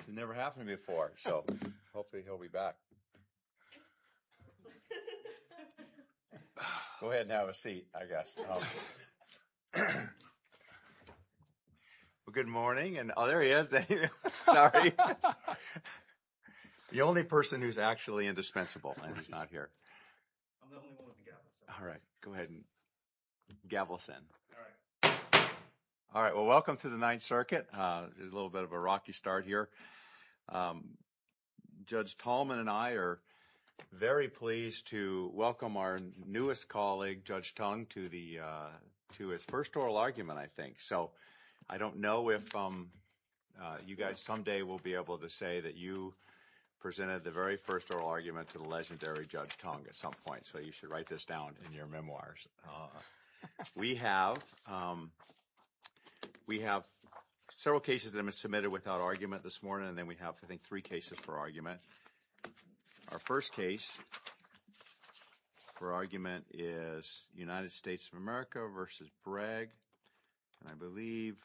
I've never happened before. So hopefully he'll be back. Go ahead and have a seat, I guess. Good morning. And oh, there he is. Sorry. The only person who's actually indispensable and he's not here. All right. Go ahead and gavel us in. All right. Well, welcome to the Ninth Circuit. There's a little bit of a rocky start here. Judge Tallman and I are very pleased to welcome our newest colleague, Judge Tung, to his first oral argument, I think. So I don't know if you guys someday will be able to say that you presented the very first oral argument to the legendary Judge Tung at some point. So you should write this down in your memoirs. We have several cases that have been submitted without argument this morning. And then we have, I think, three cases for argument. Our first case for argument is United States of America versus Bragg. And I believe,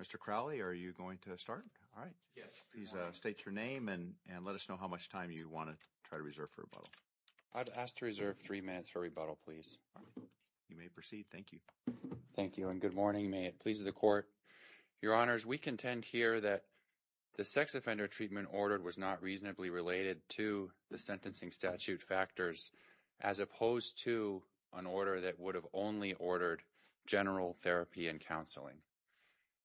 Mr. Crowley, are you going to start? All right. Yes. Please state your name and let us know how much time you want to try to reserve for rebuttal. I'd ask to reserve three minutes for rebuttal, please. You may proceed. Thank you. Thank you. And good morning. May it please the Court. Your Honors, we contend here that the sex offender treatment ordered was not reasonably related to the sentencing statute factors as opposed to an order that would have only ordered general therapy and counseling.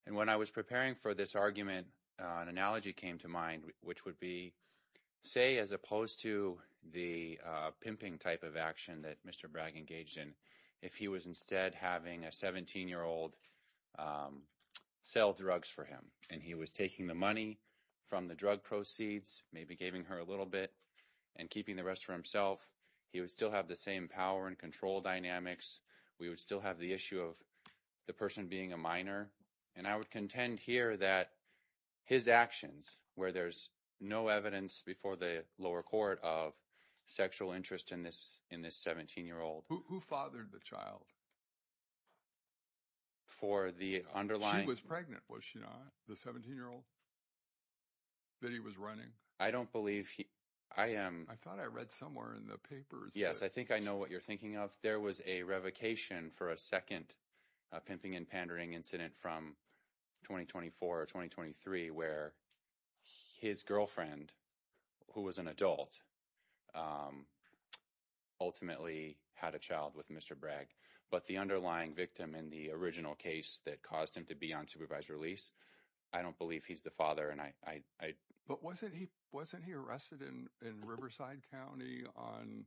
And when I was preparing for this argument, an analogy came to mind, which would be, say, as opposed to the pimping type of action that Mr. Bragg engaged in, if he was instead having a 17-year-old sell drugs for him, and he was taking the money from the drug proceeds, maybe giving her a little bit, and keeping the rest for himself, he would still have the same power and control dynamics. We would still have the issue of the person being a minor. And I would contend here that his actions, where there's no evidence before the lower court of sexual interest in this 17-year-old... Who fathered the child? For the underlying... She was pregnant, was she not? The 17-year-old that he was running? I don't believe he... I thought I read somewhere in the papers... Yes, I think I know what you're thinking of. There was a revocation for a second pimping and pandering incident from 2024 or 2023, where his girlfriend, who was an adult, ultimately had a child with Mr. Bragg. But the underlying victim in the original case that caused him to be on supervised release, I don't believe he's the father, and I... But wasn't he arrested in Riverside County on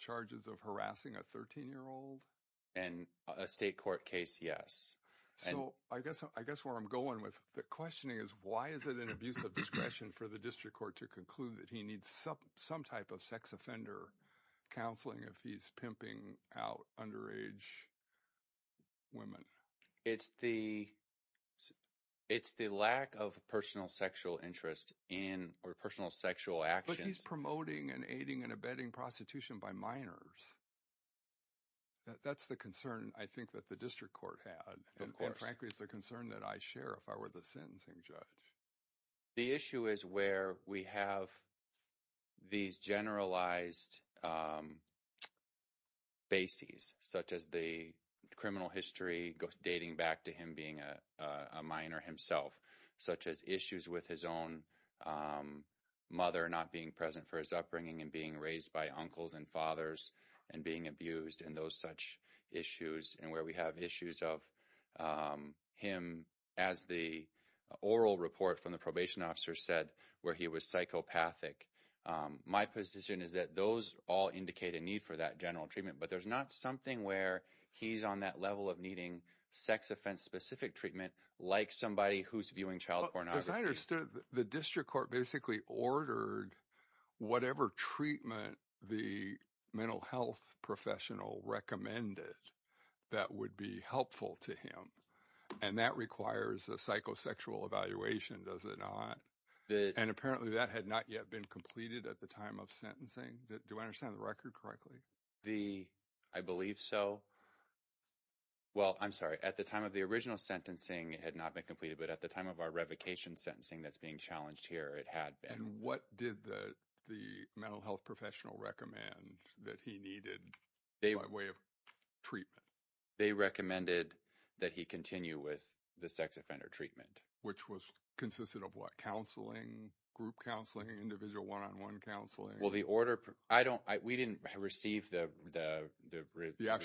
charges of harassing a 13-year-old? In a state court case, yes. So I guess where I'm going with the questioning is, why is it an abuse of discretion for the district court to conclude that he needs some type of sex offender counseling if he's pimping out underage women? It's the lack of personal sexual interest in or personal sexual actions... But he's promoting and aiding and abetting prostitution by minors. That's the concern, I think, that the district court had. Of course. And frankly, it's a concern that I share if I were the judge. The issue is where we have these generalized bases, such as the criminal history dating back to him being a minor himself, such as issues with his own mother not being present for his upbringing and being raised by uncles and fathers and being abused and those such issues, and where we have issues of him, as the oral report from the probation officer said, where he was psychopathic. My position is that those all indicate a need for that general treatment, but there's not something where he's on that level of needing sex offense-specific treatment like somebody who's viewing child pornography. As I understood, the district court basically ordered whatever treatment the mental health professional recommended that would be helpful to him, and that requires a psychosexual evaluation, does it not? And apparently, that had not yet been completed at the time of sentencing. Do I understand the record correctly? I believe so. Well, I'm sorry. At the time of the original sentencing, it had not been completed, but at the of our revocation sentencing that's being challenged here, it had been. And what did the mental health professional recommend that he needed by way of treatment? They recommended that he continue with the sex offender treatment. Which was consisted of what? Counseling, group counseling, individual one-on-one counseling? Well, we didn't receive the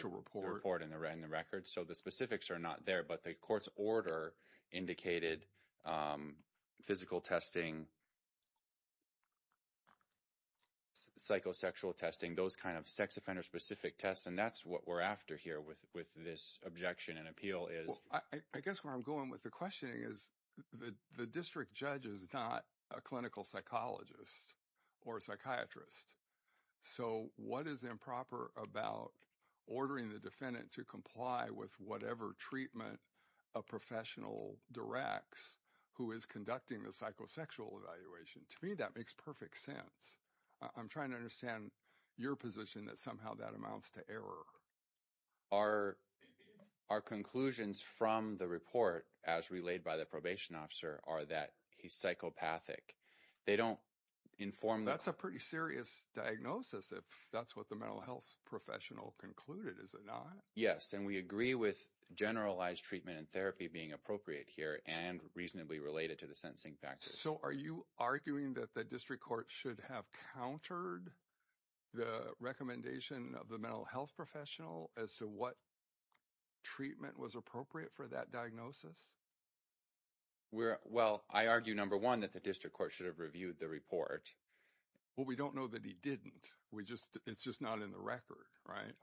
report in the record, so the specifics are not there, but the court's indicated physical testing, psychosexual testing, those kind of sex offender-specific tests, and that's what we're after here with this objection and appeal is... Well, I guess where I'm going with the questioning is the district judge is not a clinical psychologist or a psychiatrist. So what is improper about ordering the defendant to comply with whatever treatment a professional directs who is conducting the psychosexual evaluation? To me, that makes perfect sense. I'm trying to understand your position that somehow that amounts to error. Our conclusions from the report as relayed by the probation officer are that he's psychopathic. That's a pretty serious diagnosis if that's what the mental health professional concluded, is it not? Yes. And we agree with generalized treatment and therapy being appropriate here and reasonably related to the sentencing factors. So are you arguing that the district court should have countered the recommendation of the mental health professional as to what treatment was appropriate for that diagnosis? Well, I argue, number one, that the district court should have reviewed the report. Well, we don't know that he didn't. It's just not in the record, right?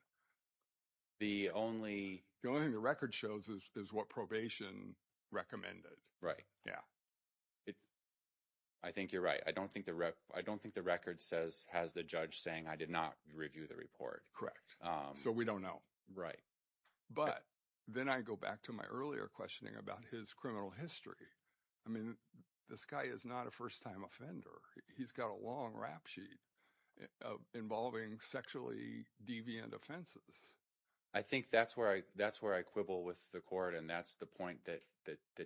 The only- The only thing the record shows is what probation recommended. Right. Yeah. I think you're right. I don't think the record has the judge saying, I did not review the report. Correct. So we don't know. Right. But then I go back to my earlier questioning about his criminal history. I mean, this guy is not a first-time offender. He's got a long rap sheet involving sexually deviant offenses. I think that's where I quibble with the court, and that's the point that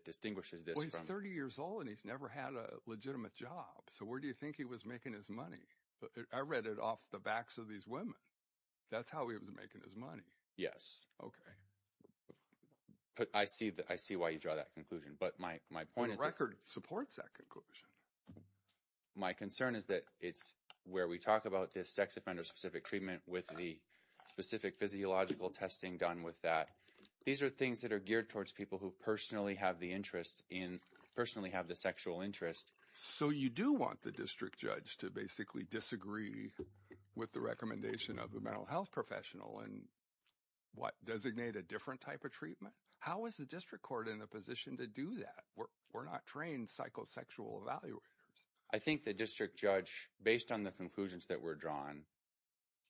distinguishes this from- Well, he's 30 years old, and he's never had a legitimate job. So where do you think he was making his money? I read it off the backs of these women. That's how he was making his money. Yes. Okay. But I see why you draw that conclusion. But my point is- Well, the record supports that conclusion. My concern is that it's where we talk about this sex offender-specific treatment with the specific physiological testing done with that. These are things that are geared towards people who personally have the interest in- personally have the sexual interest. So you do want the district judge to basically disagree with the recommendation of the mental health professional and, what, designate a different type of treatment? How is the district court in a position to do that? We're not trained psychosexual evaluators. I think the district judge, based on the conclusions that were drawn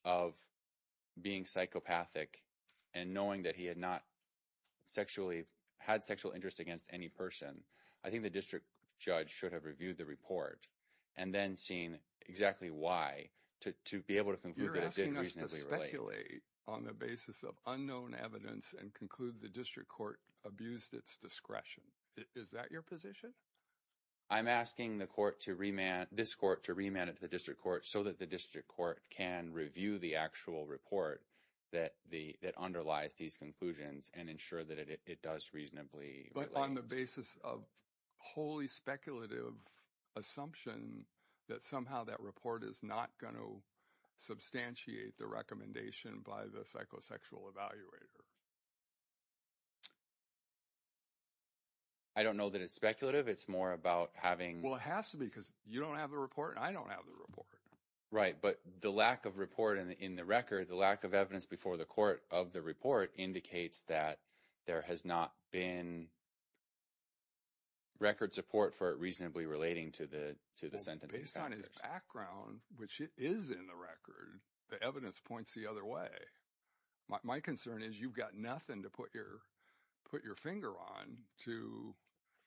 of being psychopathic and knowing that he had not had sexual interest against any person, I think the district judge should have reviewed the report and then seen exactly why to be able to conclude that it did reasonably relate. You're asking us to speculate on the basis of unknown evidence and conclude the district court abused its discretion. Is that your position? I'm asking this court to remand it to the district court so that the district court can review the actual report that underlies these conclusions and ensure that it does reasonably- But on the basis of wholly speculative assumption that somehow that report is not going to evaluate it. I don't know that it's speculative. It's more about having- Well, it has to be because you don't have the report and I don't have the report. Right. But the lack of report in the record, the lack of evidence before the court of the report indicates that there has not been record support for it reasonably relating to the sentence. Based on his background, which it is in the record, the evidence points the other way. My concern is you've got nothing to put your finger on to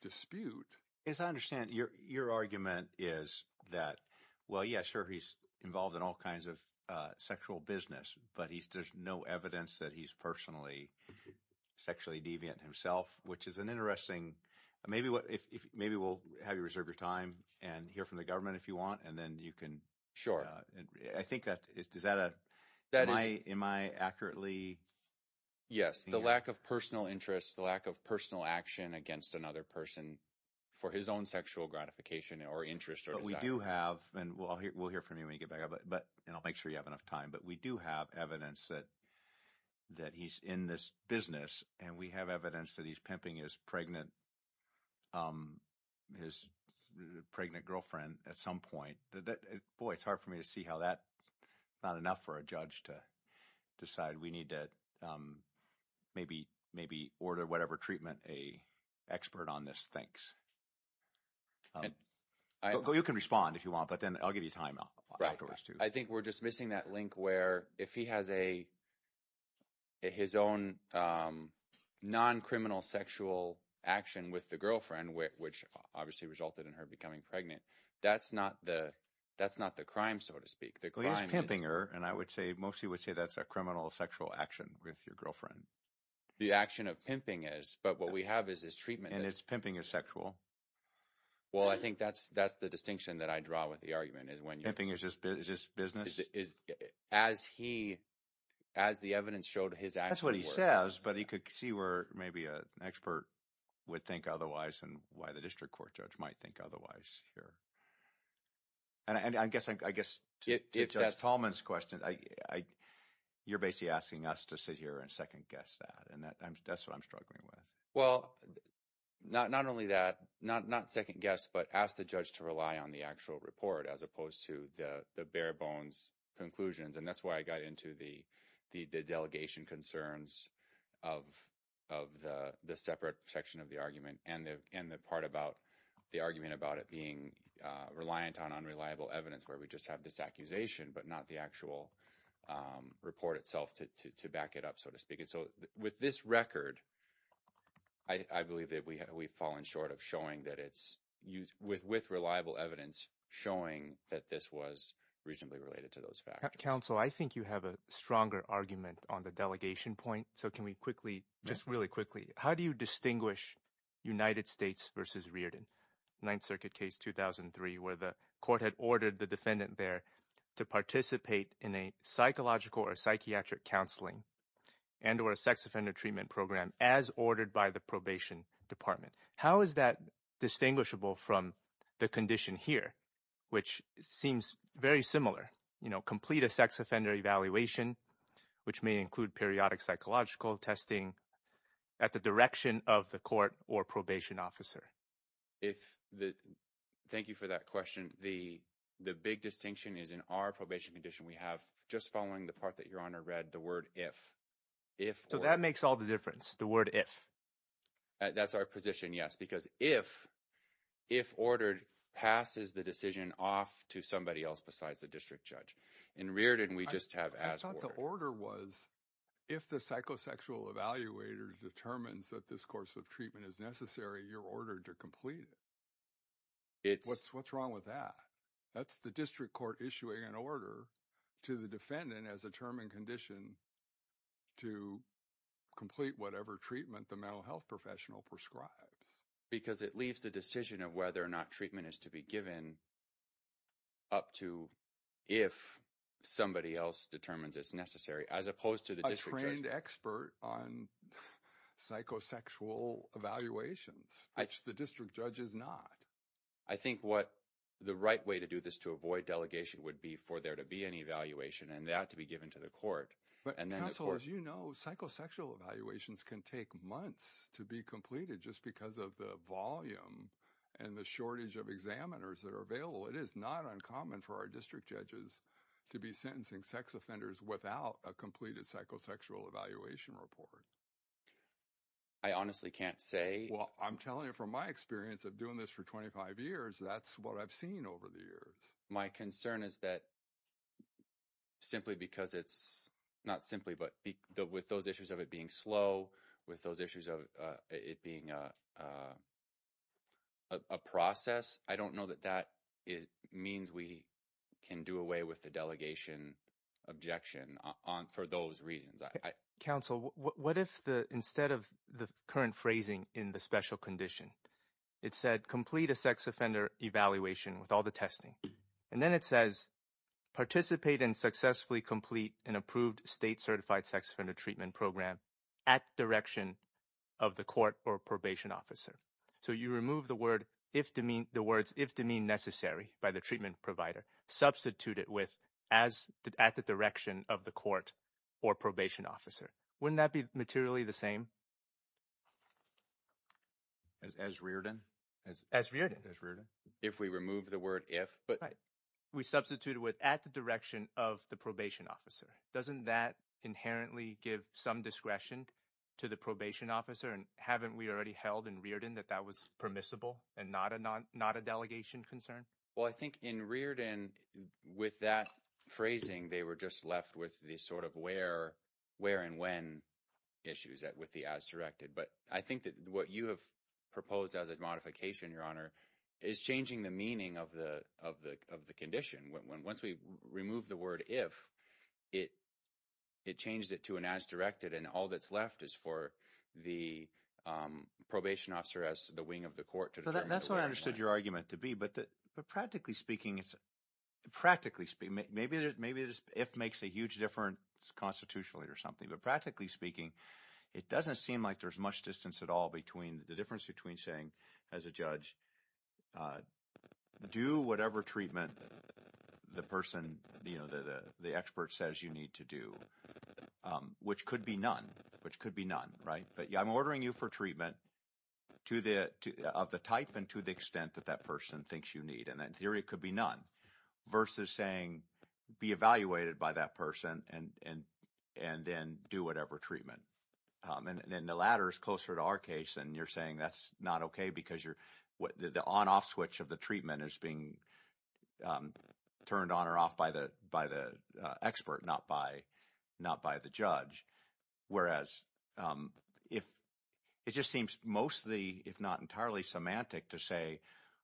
dispute. As I understand, your argument is that, well, yeah, sure, he's involved in all kinds of sexual business, but there's no evidence that he's personally sexually deviant himself, which is an interesting- Maybe we'll have you reserve your time and hear from the government if you want, and then you can- Sure. I think that is- Am I accurately- Yes. The lack of personal interest, the lack of personal action against another person for his own sexual gratification or interest or- We do have, and we'll hear from you when you get back, and I'll make sure you have enough time, but we do have evidence that he's in this business and we have evidence that he's pimping his pregnant girlfriend at some point. Boy, it's hard for me to see how that's not enough for a judge to decide we need to maybe order whatever treatment a expert on this thinks. You can respond if you want, but then I'll give you time afterwards to- Well, he's pimping her, and I would say, mostly would say that's a criminal sexual action with your girlfriend. The action of pimping is, but what we have is this treatment- And it's pimping is sexual. Well, I think that's the distinction that I draw with the argument is when- Pimping is just business? As the evidence showed, his actions were- That's what he says, but he could see where an expert would think otherwise and why the district court judge might think otherwise here. And I guess to Judge Tallman's question, you're basically asking us to sit here and second-guess that, and that's what I'm struggling with. Well, not only that, not second-guess, but ask the judge to rely on the actual report as opposed to the bare bones conclusions, and that's why I got into the delegation concerns of the separate section of the argument and the part about the argument about it being reliant on unreliable evidence where we just have this accusation but not the actual report itself to back it up, so to speak. So with this record, I believe that we've fallen short of showing that it's- With reliable evidence showing that this was reasonably related to those factors. Counsel, I think you have a stronger argument on the delegation point, so can we quickly, just really quickly, how do you distinguish United States versus Rearden? Ninth Circuit case 2003 where the court had ordered the defendant there to participate in a psychological or psychiatric counseling and or a sex offender treatment program as ordered by the probation department. How is that distinguishable from the condition here, which seems very similar? Complete a sex offender evaluation, which may include periodic psychological testing at the direction of the court or probation officer. Thank you for that question. The big distinction is in our probation condition. We have, just following the part that Your Honor read, the word if. So that makes all the difference, the word if. That's our position, yes, because if ordered passes the decision off to somebody else besides the district judge. In Rearden, we just have as ordered. I thought the order was if the psychosexual evaluator determines that this course of treatment is necessary, you're ordered to complete it. What's wrong with that? That's the district court issuing an order to the defendant as a term and condition to complete whatever treatment the mental health professional prescribes. Because it leaves the decision of whether or not treatment is to be given up to if somebody else determines it's necessary, as opposed to the district judge. A trained expert on psychosexual evaluations, which the district judge is not. I think what the right way to do this to avoid delegation would be for there to be an evaluation and that to be given to the court. But counsel, as you know, psychosexual evaluations can take months to be completed just because of the volume and the shortage of examiners that are available. It is not uncommon for our district judges to be sentencing sex offenders without a completed psychosexual evaluation report. I honestly can't say. Well, I'm telling you from my experience of doing this for 25 years, that's what I've seen over the years. My concern is that simply because it's not simply, but with those issues of it being slow, with those issues of it being a process, I don't know that that means we can do away with the delegation objection for those reasons. Counsel, what if instead of the current phrasing in the special condition, it said complete a sex offender evaluation with all the testing, and then it says participate and successfully complete an approved state certified sex offender treatment program at direction of the court or probation officer. So, you remove the words if demeaned necessary by the treatment provider, substitute it with at the direction of the court or probation officer. Wouldn't that be materially the same? As Riordan. As Riordan. If we remove the word if. Right. We substitute it with at the direction of the probation officer. Doesn't that inherently give some discretion to the probation officer? And haven't we already held in Riordan that that was permissible and not a delegation concern? Well, I think in Riordan, with that phrasing, they were just left with the sort of where and when issues with the as directed. But I think that what you have proposed as a modification, Your Honor, is changing the meaning of the condition. Once we remove the word if, it changes it to an as directed and all that's left is for the probation officer as the wing of the court. That's what I understood your argument to be. But practically speaking, maybe if makes a huge difference constitutionally or something. But practically speaking, it doesn't seem like there's much distance at all between the difference between saying as a judge, do whatever treatment the person, the expert says you need to do, which could be none. Which could be none. Right. But I'm ordering you for treatment to the of the type and to the extent that that person thinks you need. And in theory, it could be none versus saying be evaluated by that person and then do whatever treatment. And then the latter is closer to our case. And you're saying that's not OK because you're what the on off switch of the treatment is being turned on or off by the by the expert, not by the judge. Whereas if it just seems mostly, if not entirely semantic to say,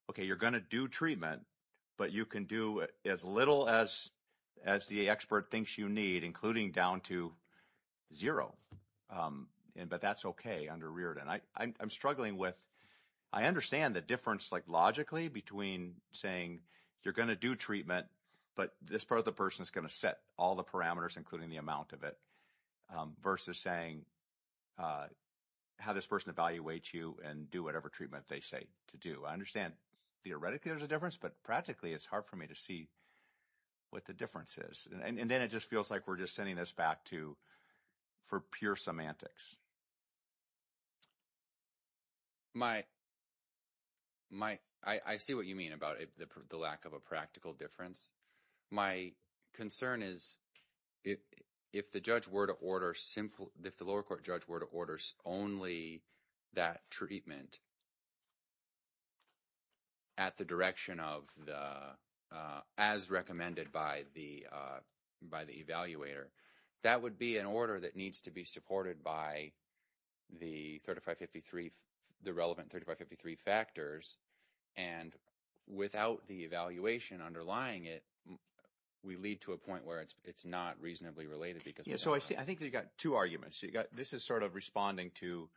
OK, you're going to do treatment, but you can do as little as as the expert thinks you need, including down to zero. But that's OK under Reardon. I'm struggling with I understand the difference like logically between saying you're going to do treatment, but this part of the person is going to set all the parameters, including the amount of it versus saying how this person evaluates you and do whatever treatment they say to do. I understand theoretically there's a difference, but practically it's hard for me to see what the difference is. And then it just feels like we're just sending this back to for pure semantics. My. My I see what you mean about the lack of a practical difference. My concern is if if the judge were to order simple, if the lower court judge were to order only that treatment. At the direction of the as recommended by the by the evaluator, that would be an order that needs to be supported by the thirty five fifty three, the relevant thirty five fifty three factors. And without the evaluation underlying it, we lead to a point where it's it's not reasonably related because. So I think you've got two arguments. You got this is sort of responding to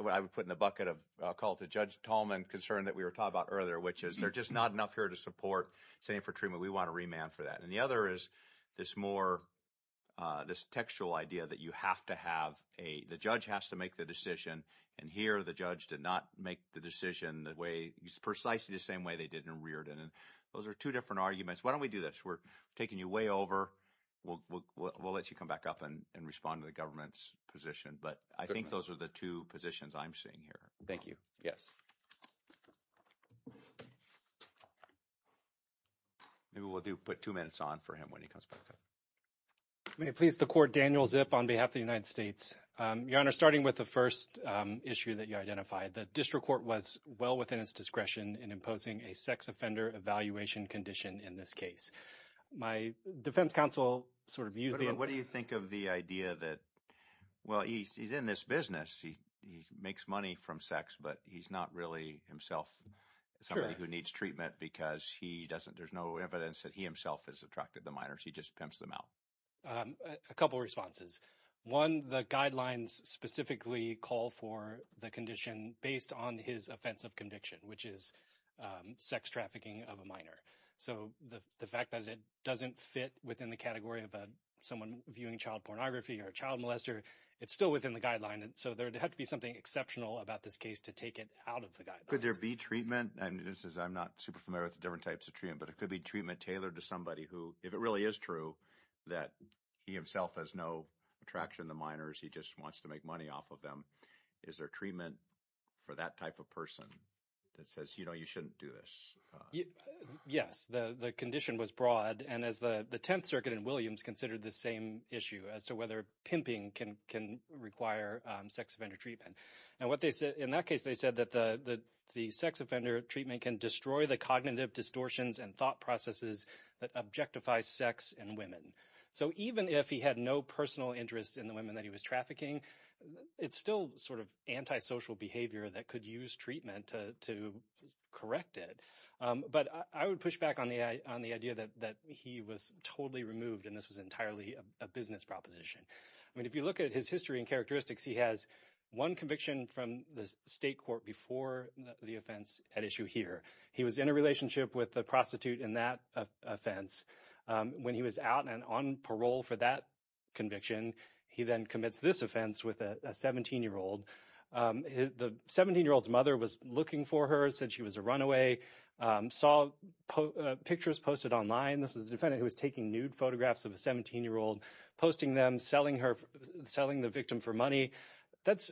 what I would put in the bucket of a call to Judge Tallman concern that we were talking about earlier, which is there just not enough here to support saying for treatment. We want to remand for that. And the other is this more this textual idea that you have to have a judge has to make the decision. And here the judge did not make the decision the way precisely the same way they did in Reardon. And those are two different arguments. Why don't we do this? We're taking you way over. We'll let you come back up and respond to the government's position. But I think those are the two positions I'm seeing here. Thank you. Yes. Maybe we'll do put two minutes on for him when he comes back. May it please the court. Daniel Zip on behalf of the United States. Your Honor, starting with the first issue that you identified, the district court was well within its discretion in imposing a sex offender evaluation condition in this case. My defense counsel sort of using what do you think of the idea that, well, he's in this business. He makes money from sex, but he's not really himself. Somebody who needs treatment because there's no evidence that he himself has attracted the minors. He just pimps them out. A couple of responses. One, the guidelines specifically call for the condition based on his offense of conviction, which is sex trafficking of a minor. So the fact that it doesn't fit within the category of someone viewing child pornography or a child molester, it's still within the guideline. And so there would have to be something exceptional about this case to take it out of the guide. Could there be treatment? And this is I'm not super familiar with the different types of treatment, but it could be treatment tailored to somebody who if it really is true that he himself has no attraction to minors, he just wants to make money off of them. Is there treatment for that type of person that says, you know, you shouldn't do this? Yes, the condition was broad. And as the 10th Circuit in Williams considered the same issue as to whether pimping can can require sex offender treatment and what they said in that case, they said that the sex offender treatment can destroy the cognitive distortions and thought processes that objectify sex and women. So even if he had no personal interest in the women that he was trafficking, it's still sort of anti-social behavior that could use treatment to correct it. But I would push back on the idea that he was totally removed and this was entirely a business proposition. I mean, if you look at his history and characteristics, he has one conviction from the state court before the offense at issue here. He was in a relationship with the prostitute in that offense when he was out and on parole for that conviction. He then commits this offense with a 17-year-old. The 17-year-old's mother was looking for her, said she was a runaway, saw pictures posted online. This was a defendant who was taking nude photographs of a 17-year-old, posting them, selling her, selling the victim for money. That's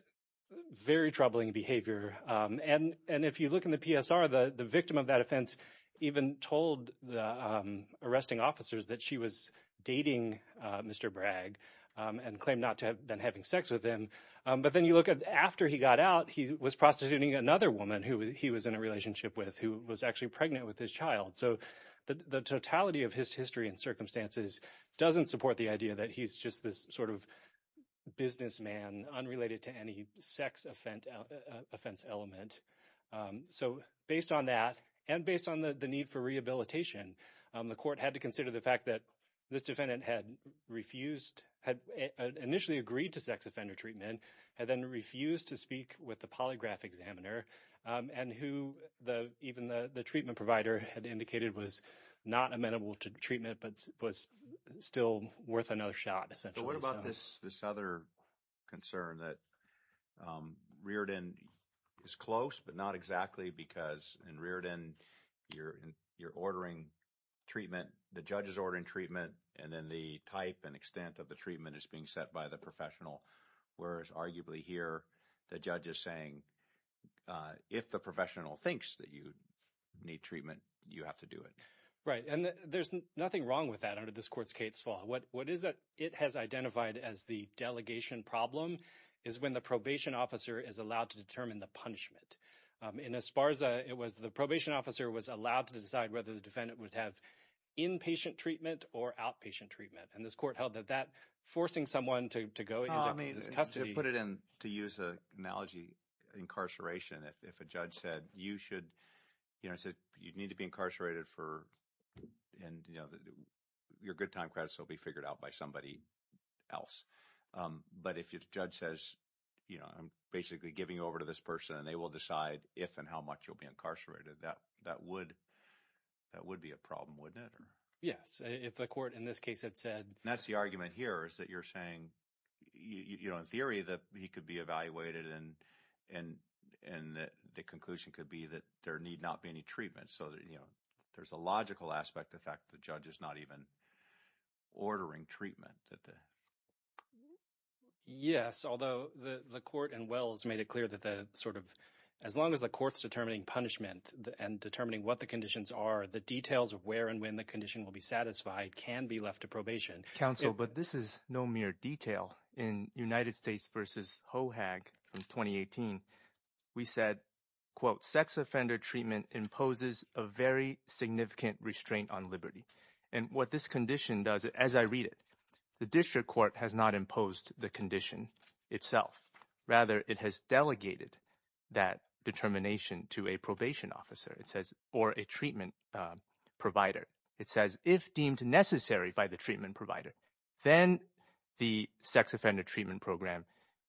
very troubling behavior. And if you look in the PSR, the victim of that offense even told the arresting officers that she was dating Mr. Bragg and claimed not to have been having sex with him. But then you look at after he got out, he was prostituting another woman who he was in a relationship with who was actually pregnant with his child. So the totality of his history and circumstances doesn't support the idea that he's just this sort of businessman unrelated to any sex offense element. So based on that and based on the need for rehabilitation, the court had to consider the fact that this defendant had refused, had initially agreed to sex offender treatment, had then refused to speak with the polygraph examiner, and who even the treatment provider had indicated was not amenable to treatment but was still worth another shot essentially. But what about this other concern that Reardon is close but not exactly because in Reardon you're ordering treatment, the judge is ordering treatment, and then the type and extent of the arguably here the judge is saying if the professional thinks that you need treatment, you have to do it. Right and there's nothing wrong with that under this court's case law. What is that it has identified as the delegation problem is when the probation officer is allowed to determine the punishment. In Esparza, it was the probation officer was allowed to decide whether the defendant would have inpatient treatment or outpatient treatment and this court held that forcing someone to go into custody. Put it in to use an analogy incarceration if a judge said you should you know you need to be incarcerated for and you know your good time credits will be figured out by somebody else. But if your judge says you know I'm basically giving over to this person and they will decide if and how much you'll be incarcerated that that would that would be a yes if the court in this case had said that's the argument here is that you're saying you know in theory that he could be evaluated and and and that the conclusion could be that there need not be any treatment so that you know there's a logical aspect of fact the judge is not even ordering treatment that the yes although the the court and wells made it clear that the sort of as long as the court's determining punishment and determining what the conditions are the details of where and when the condition will be satisfied can be left to probation council but this is no mere detail in united states versus hoag from 2018 we said quote sex offender treatment imposes a very significant restraint on liberty and what this condition does as i read it the district court has not imposed the condition itself rather it has delegated that determination to a probation officer it says or a treatment provider it says if deemed necessary by the treatment provider then the sex offender treatment program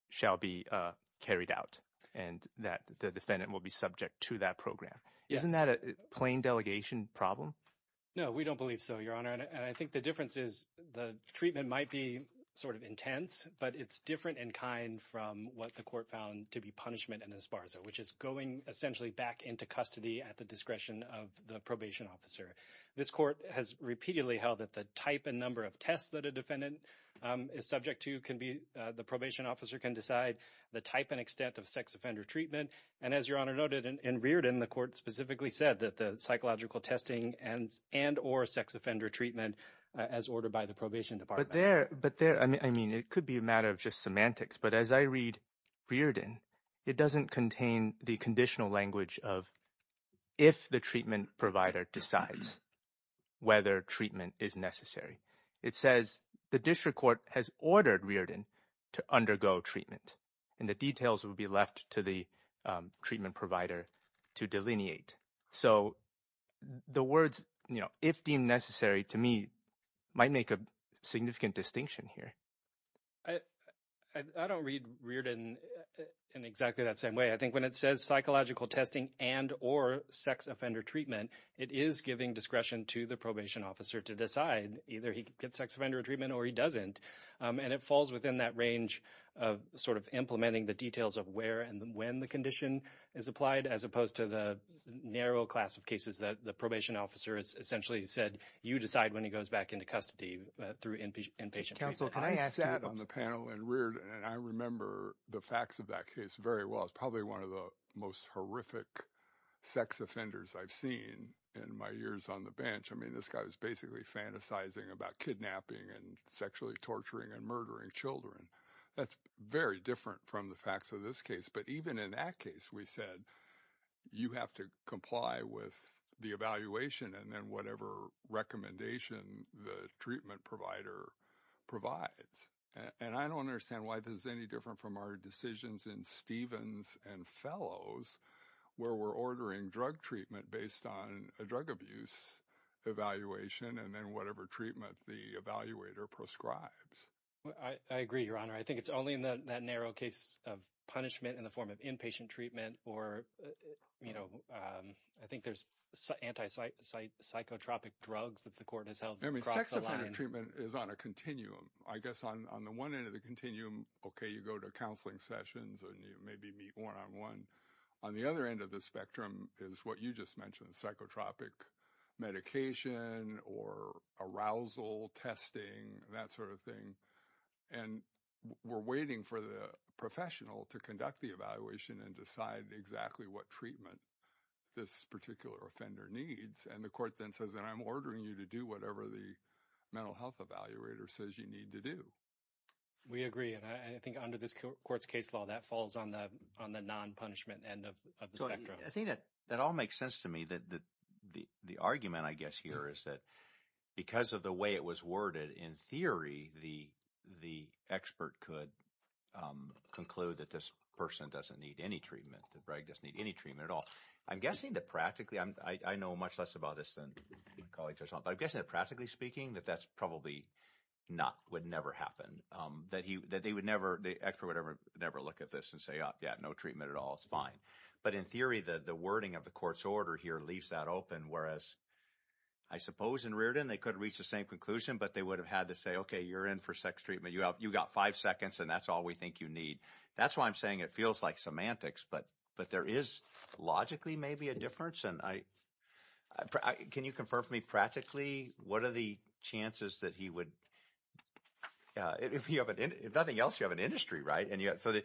shall be uh carried out and that the defendant will be subject to that program isn't that a plain delegation problem no we don't believe so your honor and i think the difference is the treatment might be sort of intense but it's from what the court found to be punishment and esparza which is going essentially back into custody at the discretion of the probation officer this court has repeatedly held that the type and number of tests that a defendant is subject to can be the probation officer can decide the type and extent of sex offender treatment and as your honor noted and reared in the court specifically said that the psychological testing and and or sex offender treatment as ordered by but there but there i mean i mean it could be a matter of just semantics but as i read reared in it doesn't contain the conditional language of if the treatment provider decides whether treatment is necessary it says the district court has ordered reared in to undergo treatment and the details will be left to the treatment provider to delineate so the words you know if deemed necessary to me might make a significant distinction here i i don't read reared in in exactly that same way i think when it says psychological testing and or sex offender treatment it is giving discretion to the probation officer to decide either he gets sex offender treatment or he doesn't and it falls within that range of sort of implementing the details of where and when the condition is applied as opposed to the narrow class of cases that the probation officer has essentially said you decide when he goes back into custody through inpatient counsel can i sat on the panel and reared and i remember the facts of that case very well it's probably one of the most horrific sex offenders i've seen in my years on the bench i mean this guy was basically fantasizing about kidnapping and sexually torturing and murdering children that's very different from the facts of this case but even in that case we said you have to comply with the evaluation and then whatever recommendation the treatment provider provides and i don't understand why this is any different from our decisions in stevens and fellows where we're ordering drug treatment based on a drug abuse evaluation and then whatever treatment the evaluator proscribes i agree your honor i think it's only in that narrow case of punishment in the form of inpatient treatment or you know um i think there's anti-site psychotropic drugs that the court has held i mean sex offender treatment is on a continuum i guess on on the one end of the continuum okay you go to counseling sessions and you maybe meet one-on-one on the other end of the spectrum is what you just mentioned psychotropic medication or arousal testing that sort of thing and we're waiting for the professional to conduct the evaluation and decide exactly what treatment this particular offender needs and the court then says that i'm ordering you to do whatever the mental health evaluator says you need to do we agree and i think under this court's case law that falls on the on the non-punishment end of the spectrum i think that that all makes sense to me that the the argument i guess here is that because of the way it was worded in theory the the expert could um conclude that this person doesn't need any treatment the drug doesn't need any treatment at all i'm guessing that practically i'm i i know much less about this than my colleagues but i'm guessing that practically speaking that that's probably not would never happen um that he that they would never the expert would ever never look at this and say oh yeah no treatment at all it's fine but in theory the the wording of the court's open whereas i suppose in reardon they could reach the same conclusion but they would have had to say okay you're in for sex treatment you have you got five seconds and that's all we think you need that's why i'm saying it feels like semantics but but there is logically maybe a difference and i i can you confirm for me practically what are the chances that he would uh if you have an if nothing else you have an industry right and yet so that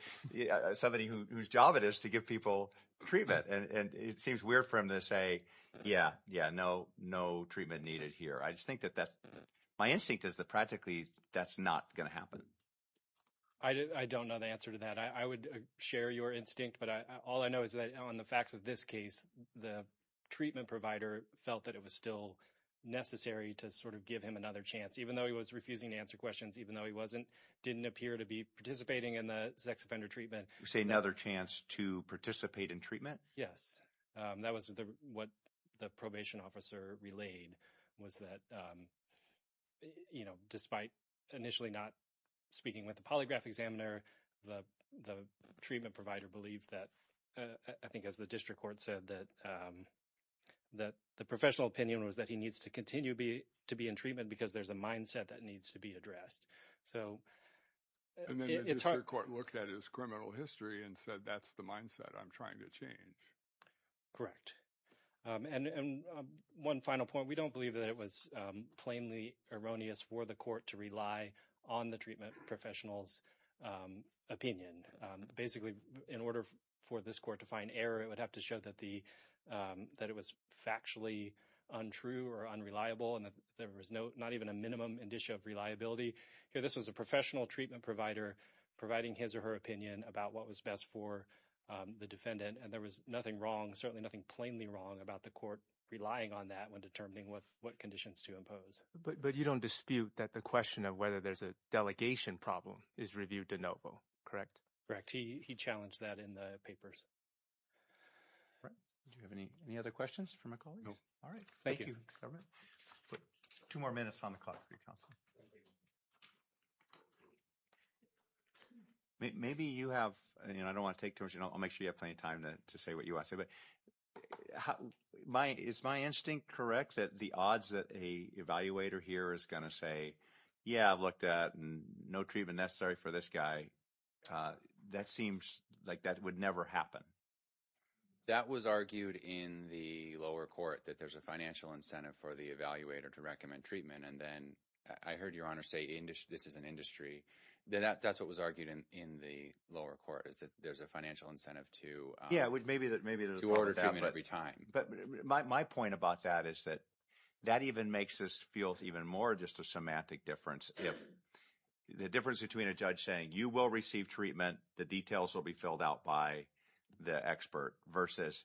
somebody whose job it is to give people treatment and it seems weird for him to say yeah yeah no no treatment needed here i just think that that's my instinct is that practically that's not going to happen i don't know the answer to that i would share your instinct but i all i know is that on the facts of this case the treatment provider felt that it was still necessary to sort of give him another chance even though he was refusing to answer questions even though he wasn't didn't appear to be participating in the sex offender treatment you say another chance to participate in treatment yes um that was the what the probation officer relayed was that um you know despite initially not speaking with the polygraph examiner the the treatment provider believed that i think as the district court said that um that the professional opinion was that he needs to to be in treatment because there's a mindset that needs to be addressed so and then the court looked at his criminal history and said that's the mindset i'm trying to change correct um and and one final point we don't believe that it was um plainly erroneous for the court to rely on the treatment professionals um opinion um basically in order for this court to find error it would have to show that the um that it was factually untrue or unreliable and there was no not even a minimum indicia of reliability here this was a professional treatment provider providing his or her opinion about what was best for um the defendant and there was nothing wrong certainly nothing plainly wrong about the court relying on that when determining what what conditions to impose but but you don't dispute that the question of whether there's a delegation problem is reviewed de novo correct correct he he challenged that in the papers right do you have any any other questions for my colleagues all right thank you two more minutes on the call for your counsel maybe you have you know i don't want to take too much you know i'll make sure you have plenty of time to say what you want to say but my is my instinct correct that the odds that a evaluator here is going to say yeah i've looked at and no treatment necessary for this guy uh that seems like that would never happen that was argued in the lower court that there's a financial incentive for the evaluator to recommend treatment and then i heard your honor say industry this is an industry that that's what was argued in in the lower court is that there's a financial incentive to yeah maybe that maybe there's two orders every time but my point about that is that that even makes us feel even more just a semantic difference if the difference between a judge saying you will receive treatment the details will be filled out by the expert versus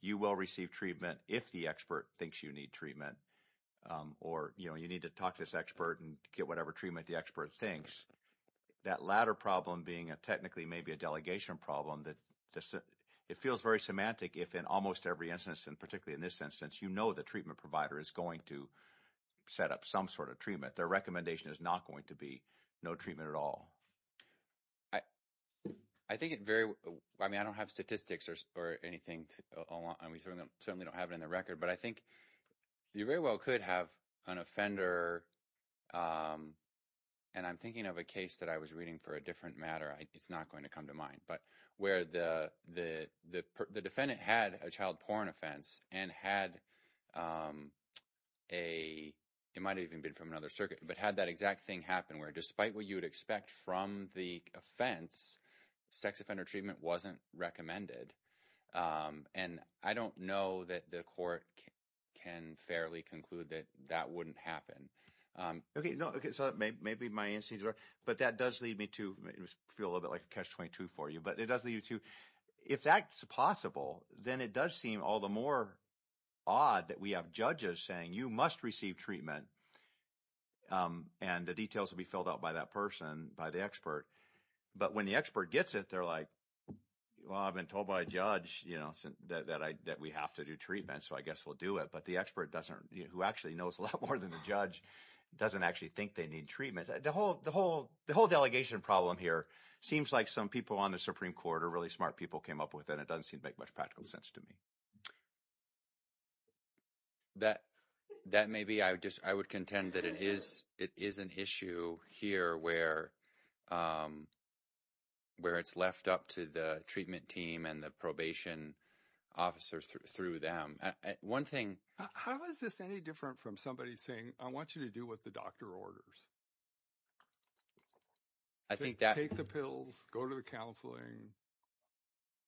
you will receive treatment if the expert thinks you need treatment or you know you need to talk to this expert and get whatever treatment the expert thinks that latter problem being a technically maybe a delegation problem that it feels very semantic if in almost every instance and particularly in this sense since you know the treatment provider is going to set up some sort of treatment their recommendation is not going to be no treatment at all i i think it very well i mean i don't have statistics or anything along i mean certainly don't have it in the record but i think you very well could have an offender um and i'm thinking of a case that i was reading for a different matter it's not going to come to but where the the the defendant had a child porn offense and had um a it might have even been from another circuit but had that exact thing happen where despite what you would expect from the offense sex offender treatment wasn't recommended um and i don't know that the court can fairly conclude that that wouldn't happen um okay no okay so maybe my instincts are but that does lead me to feel a little bit like a catch-22 for you but it does lead you to if that's possible then it does seem all the more odd that we have judges saying you must receive treatment um and the details will be filled out by that person by the expert but when the expert gets it they're like well i've been told by a judge you know that i that we have to do treatment so i guess we'll do it but the expert doesn't who actually knows a lot more than the judge doesn't actually think they need treatment the whole the whole the whole delegation problem here seems like some people on the supreme court are really smart people came up with and it doesn't seem to make much practical sense to me that that may be i just i would contend that it is it is an issue here where um where it's left up to the treatment team and the probation officers through them one thing how is this any different from somebody saying i want you to do what the doctor orders i think that take the pills go to the counseling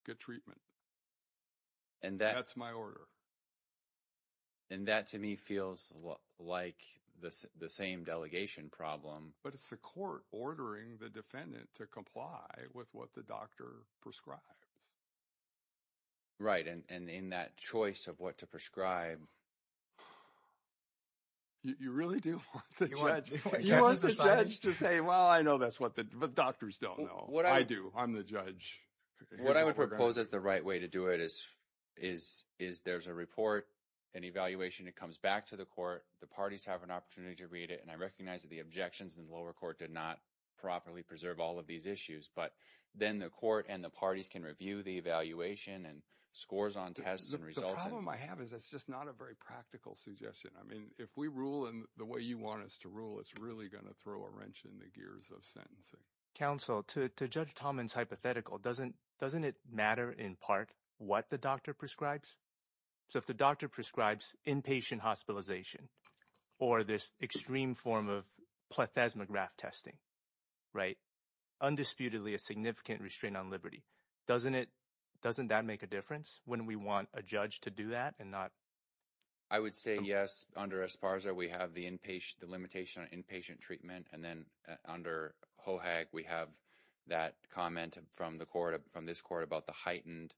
get treatment and that's my order and that to me feels like this the same delegation problem but it's the court ordering the defendant to comply with what the doctor prescribes right and and in that choice of what to prescribe you really do want the judge to say well i know that's what the doctors don't know what i do i'm the judge what i would propose is the right way to do it is is is there's a report an evaluation it comes back to the court the parties have an opportunity to read it and i recognize that the objections in the lower court did not properly preserve all of these issues but then the court and the parties can review the evaluation and scores on tests and results the problem i have is it's just not a very practical suggestion i mean if we rule in the way you want us to rule it's really going to throw a wrench in the gears of sentencing counsel to judge thomans hypothetical doesn't doesn't it matter in part what the doctor prescribes so if the doctor prescribes inpatient hospitalization or this extreme form of plethysma graft testing right undisputedly a significant restraint on liberty doesn't it doesn't that make a difference when we want a judge to do that and not i would say yes under esparza we have the inpatient the limitation on inpatient treatment and then under hoag we have that comment from the court from this court about the heightened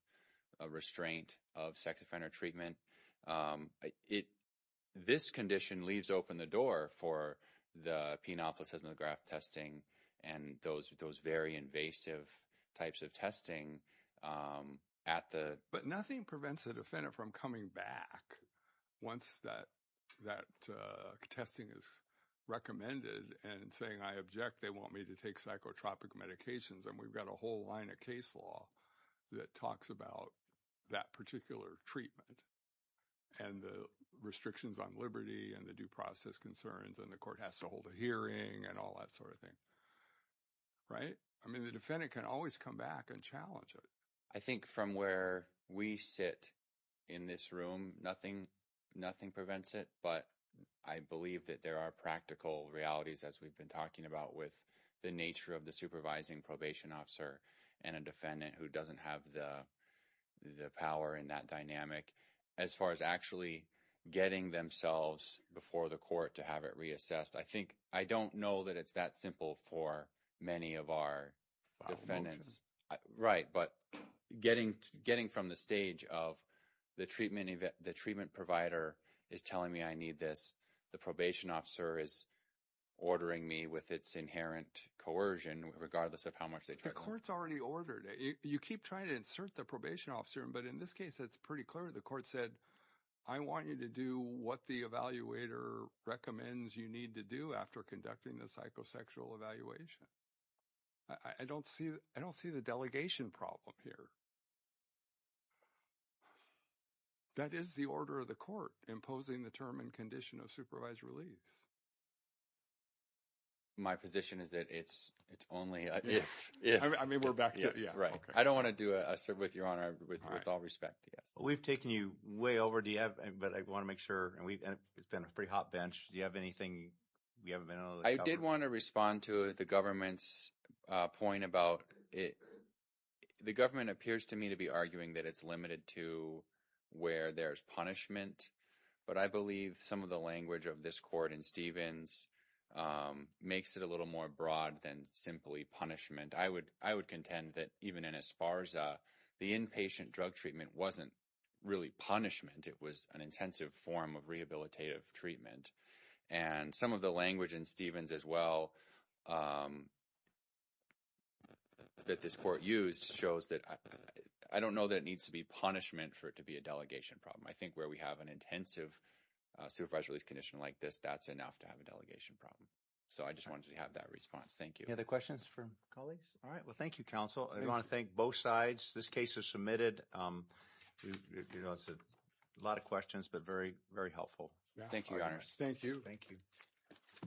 restraint of sex offender treatment it this condition leaves open the door for the pianopolis has no graft testing and those those very invasive types of testing um at the but nothing prevents the defendant from coming back once that that uh testing is recommended and saying i object they want me to take psychotropic medications and we've got a whole line of case law that talks about that particular treatment and the restrictions on liberty and the due concerns and the court has to hold a hearing and all that sort of thing right i mean the defendant can always come back and challenge it i think from where we sit in this room nothing nothing prevents it but i believe that there are practical realities as we've been talking about with the nature of the supervising probation officer and a defendant who doesn't have the the power in that dynamic as far as actually getting themselves before the court to have it reassessed i think i don't know that it's that simple for many of our defendants right but getting getting from the stage of the treatment event the treatment provider is telling me i need this the probation officer is ordering me with its inherent coercion regardless of how much they the court's already ordered you keep trying to insert the probation officer but in this case it's pretty clear the court said i want you to do what the evaluator recommends you need to do after conducting the psychosexual evaluation i don't see i don't see the delegation problem here that is the order of the court imposing the term and condition of supervised release my position is that it's it's only if i mean we're back yeah right i don't want to do a sir with your honor with all respect yes we've taken you way over do you have but i want to make sure and we've been a pretty hot bench do you have anything we haven't been i did want to respond to the government's uh point about it the government appears to me to be arguing that it's limited to where there's punishment but i believe some of the language of this court in stevens um makes it a little more broad than simply punishment i would i would contend that even in esparza the inpatient drug treatment wasn't really punishment it was an intensive form of rehabilitative treatment and some of the language in stevens as well um um that this court used shows that i don't know that it needs to be punishment for it to be a delegation problem i think where we have an intensive uh supervised release condition like this that's enough to have a delegation problem so i just wanted to have that response thank you any other questions from colleagues all right well thank you counsel i want to thank both sides this case is submitted um you know it's a lot of questions but very very helpful thank you your you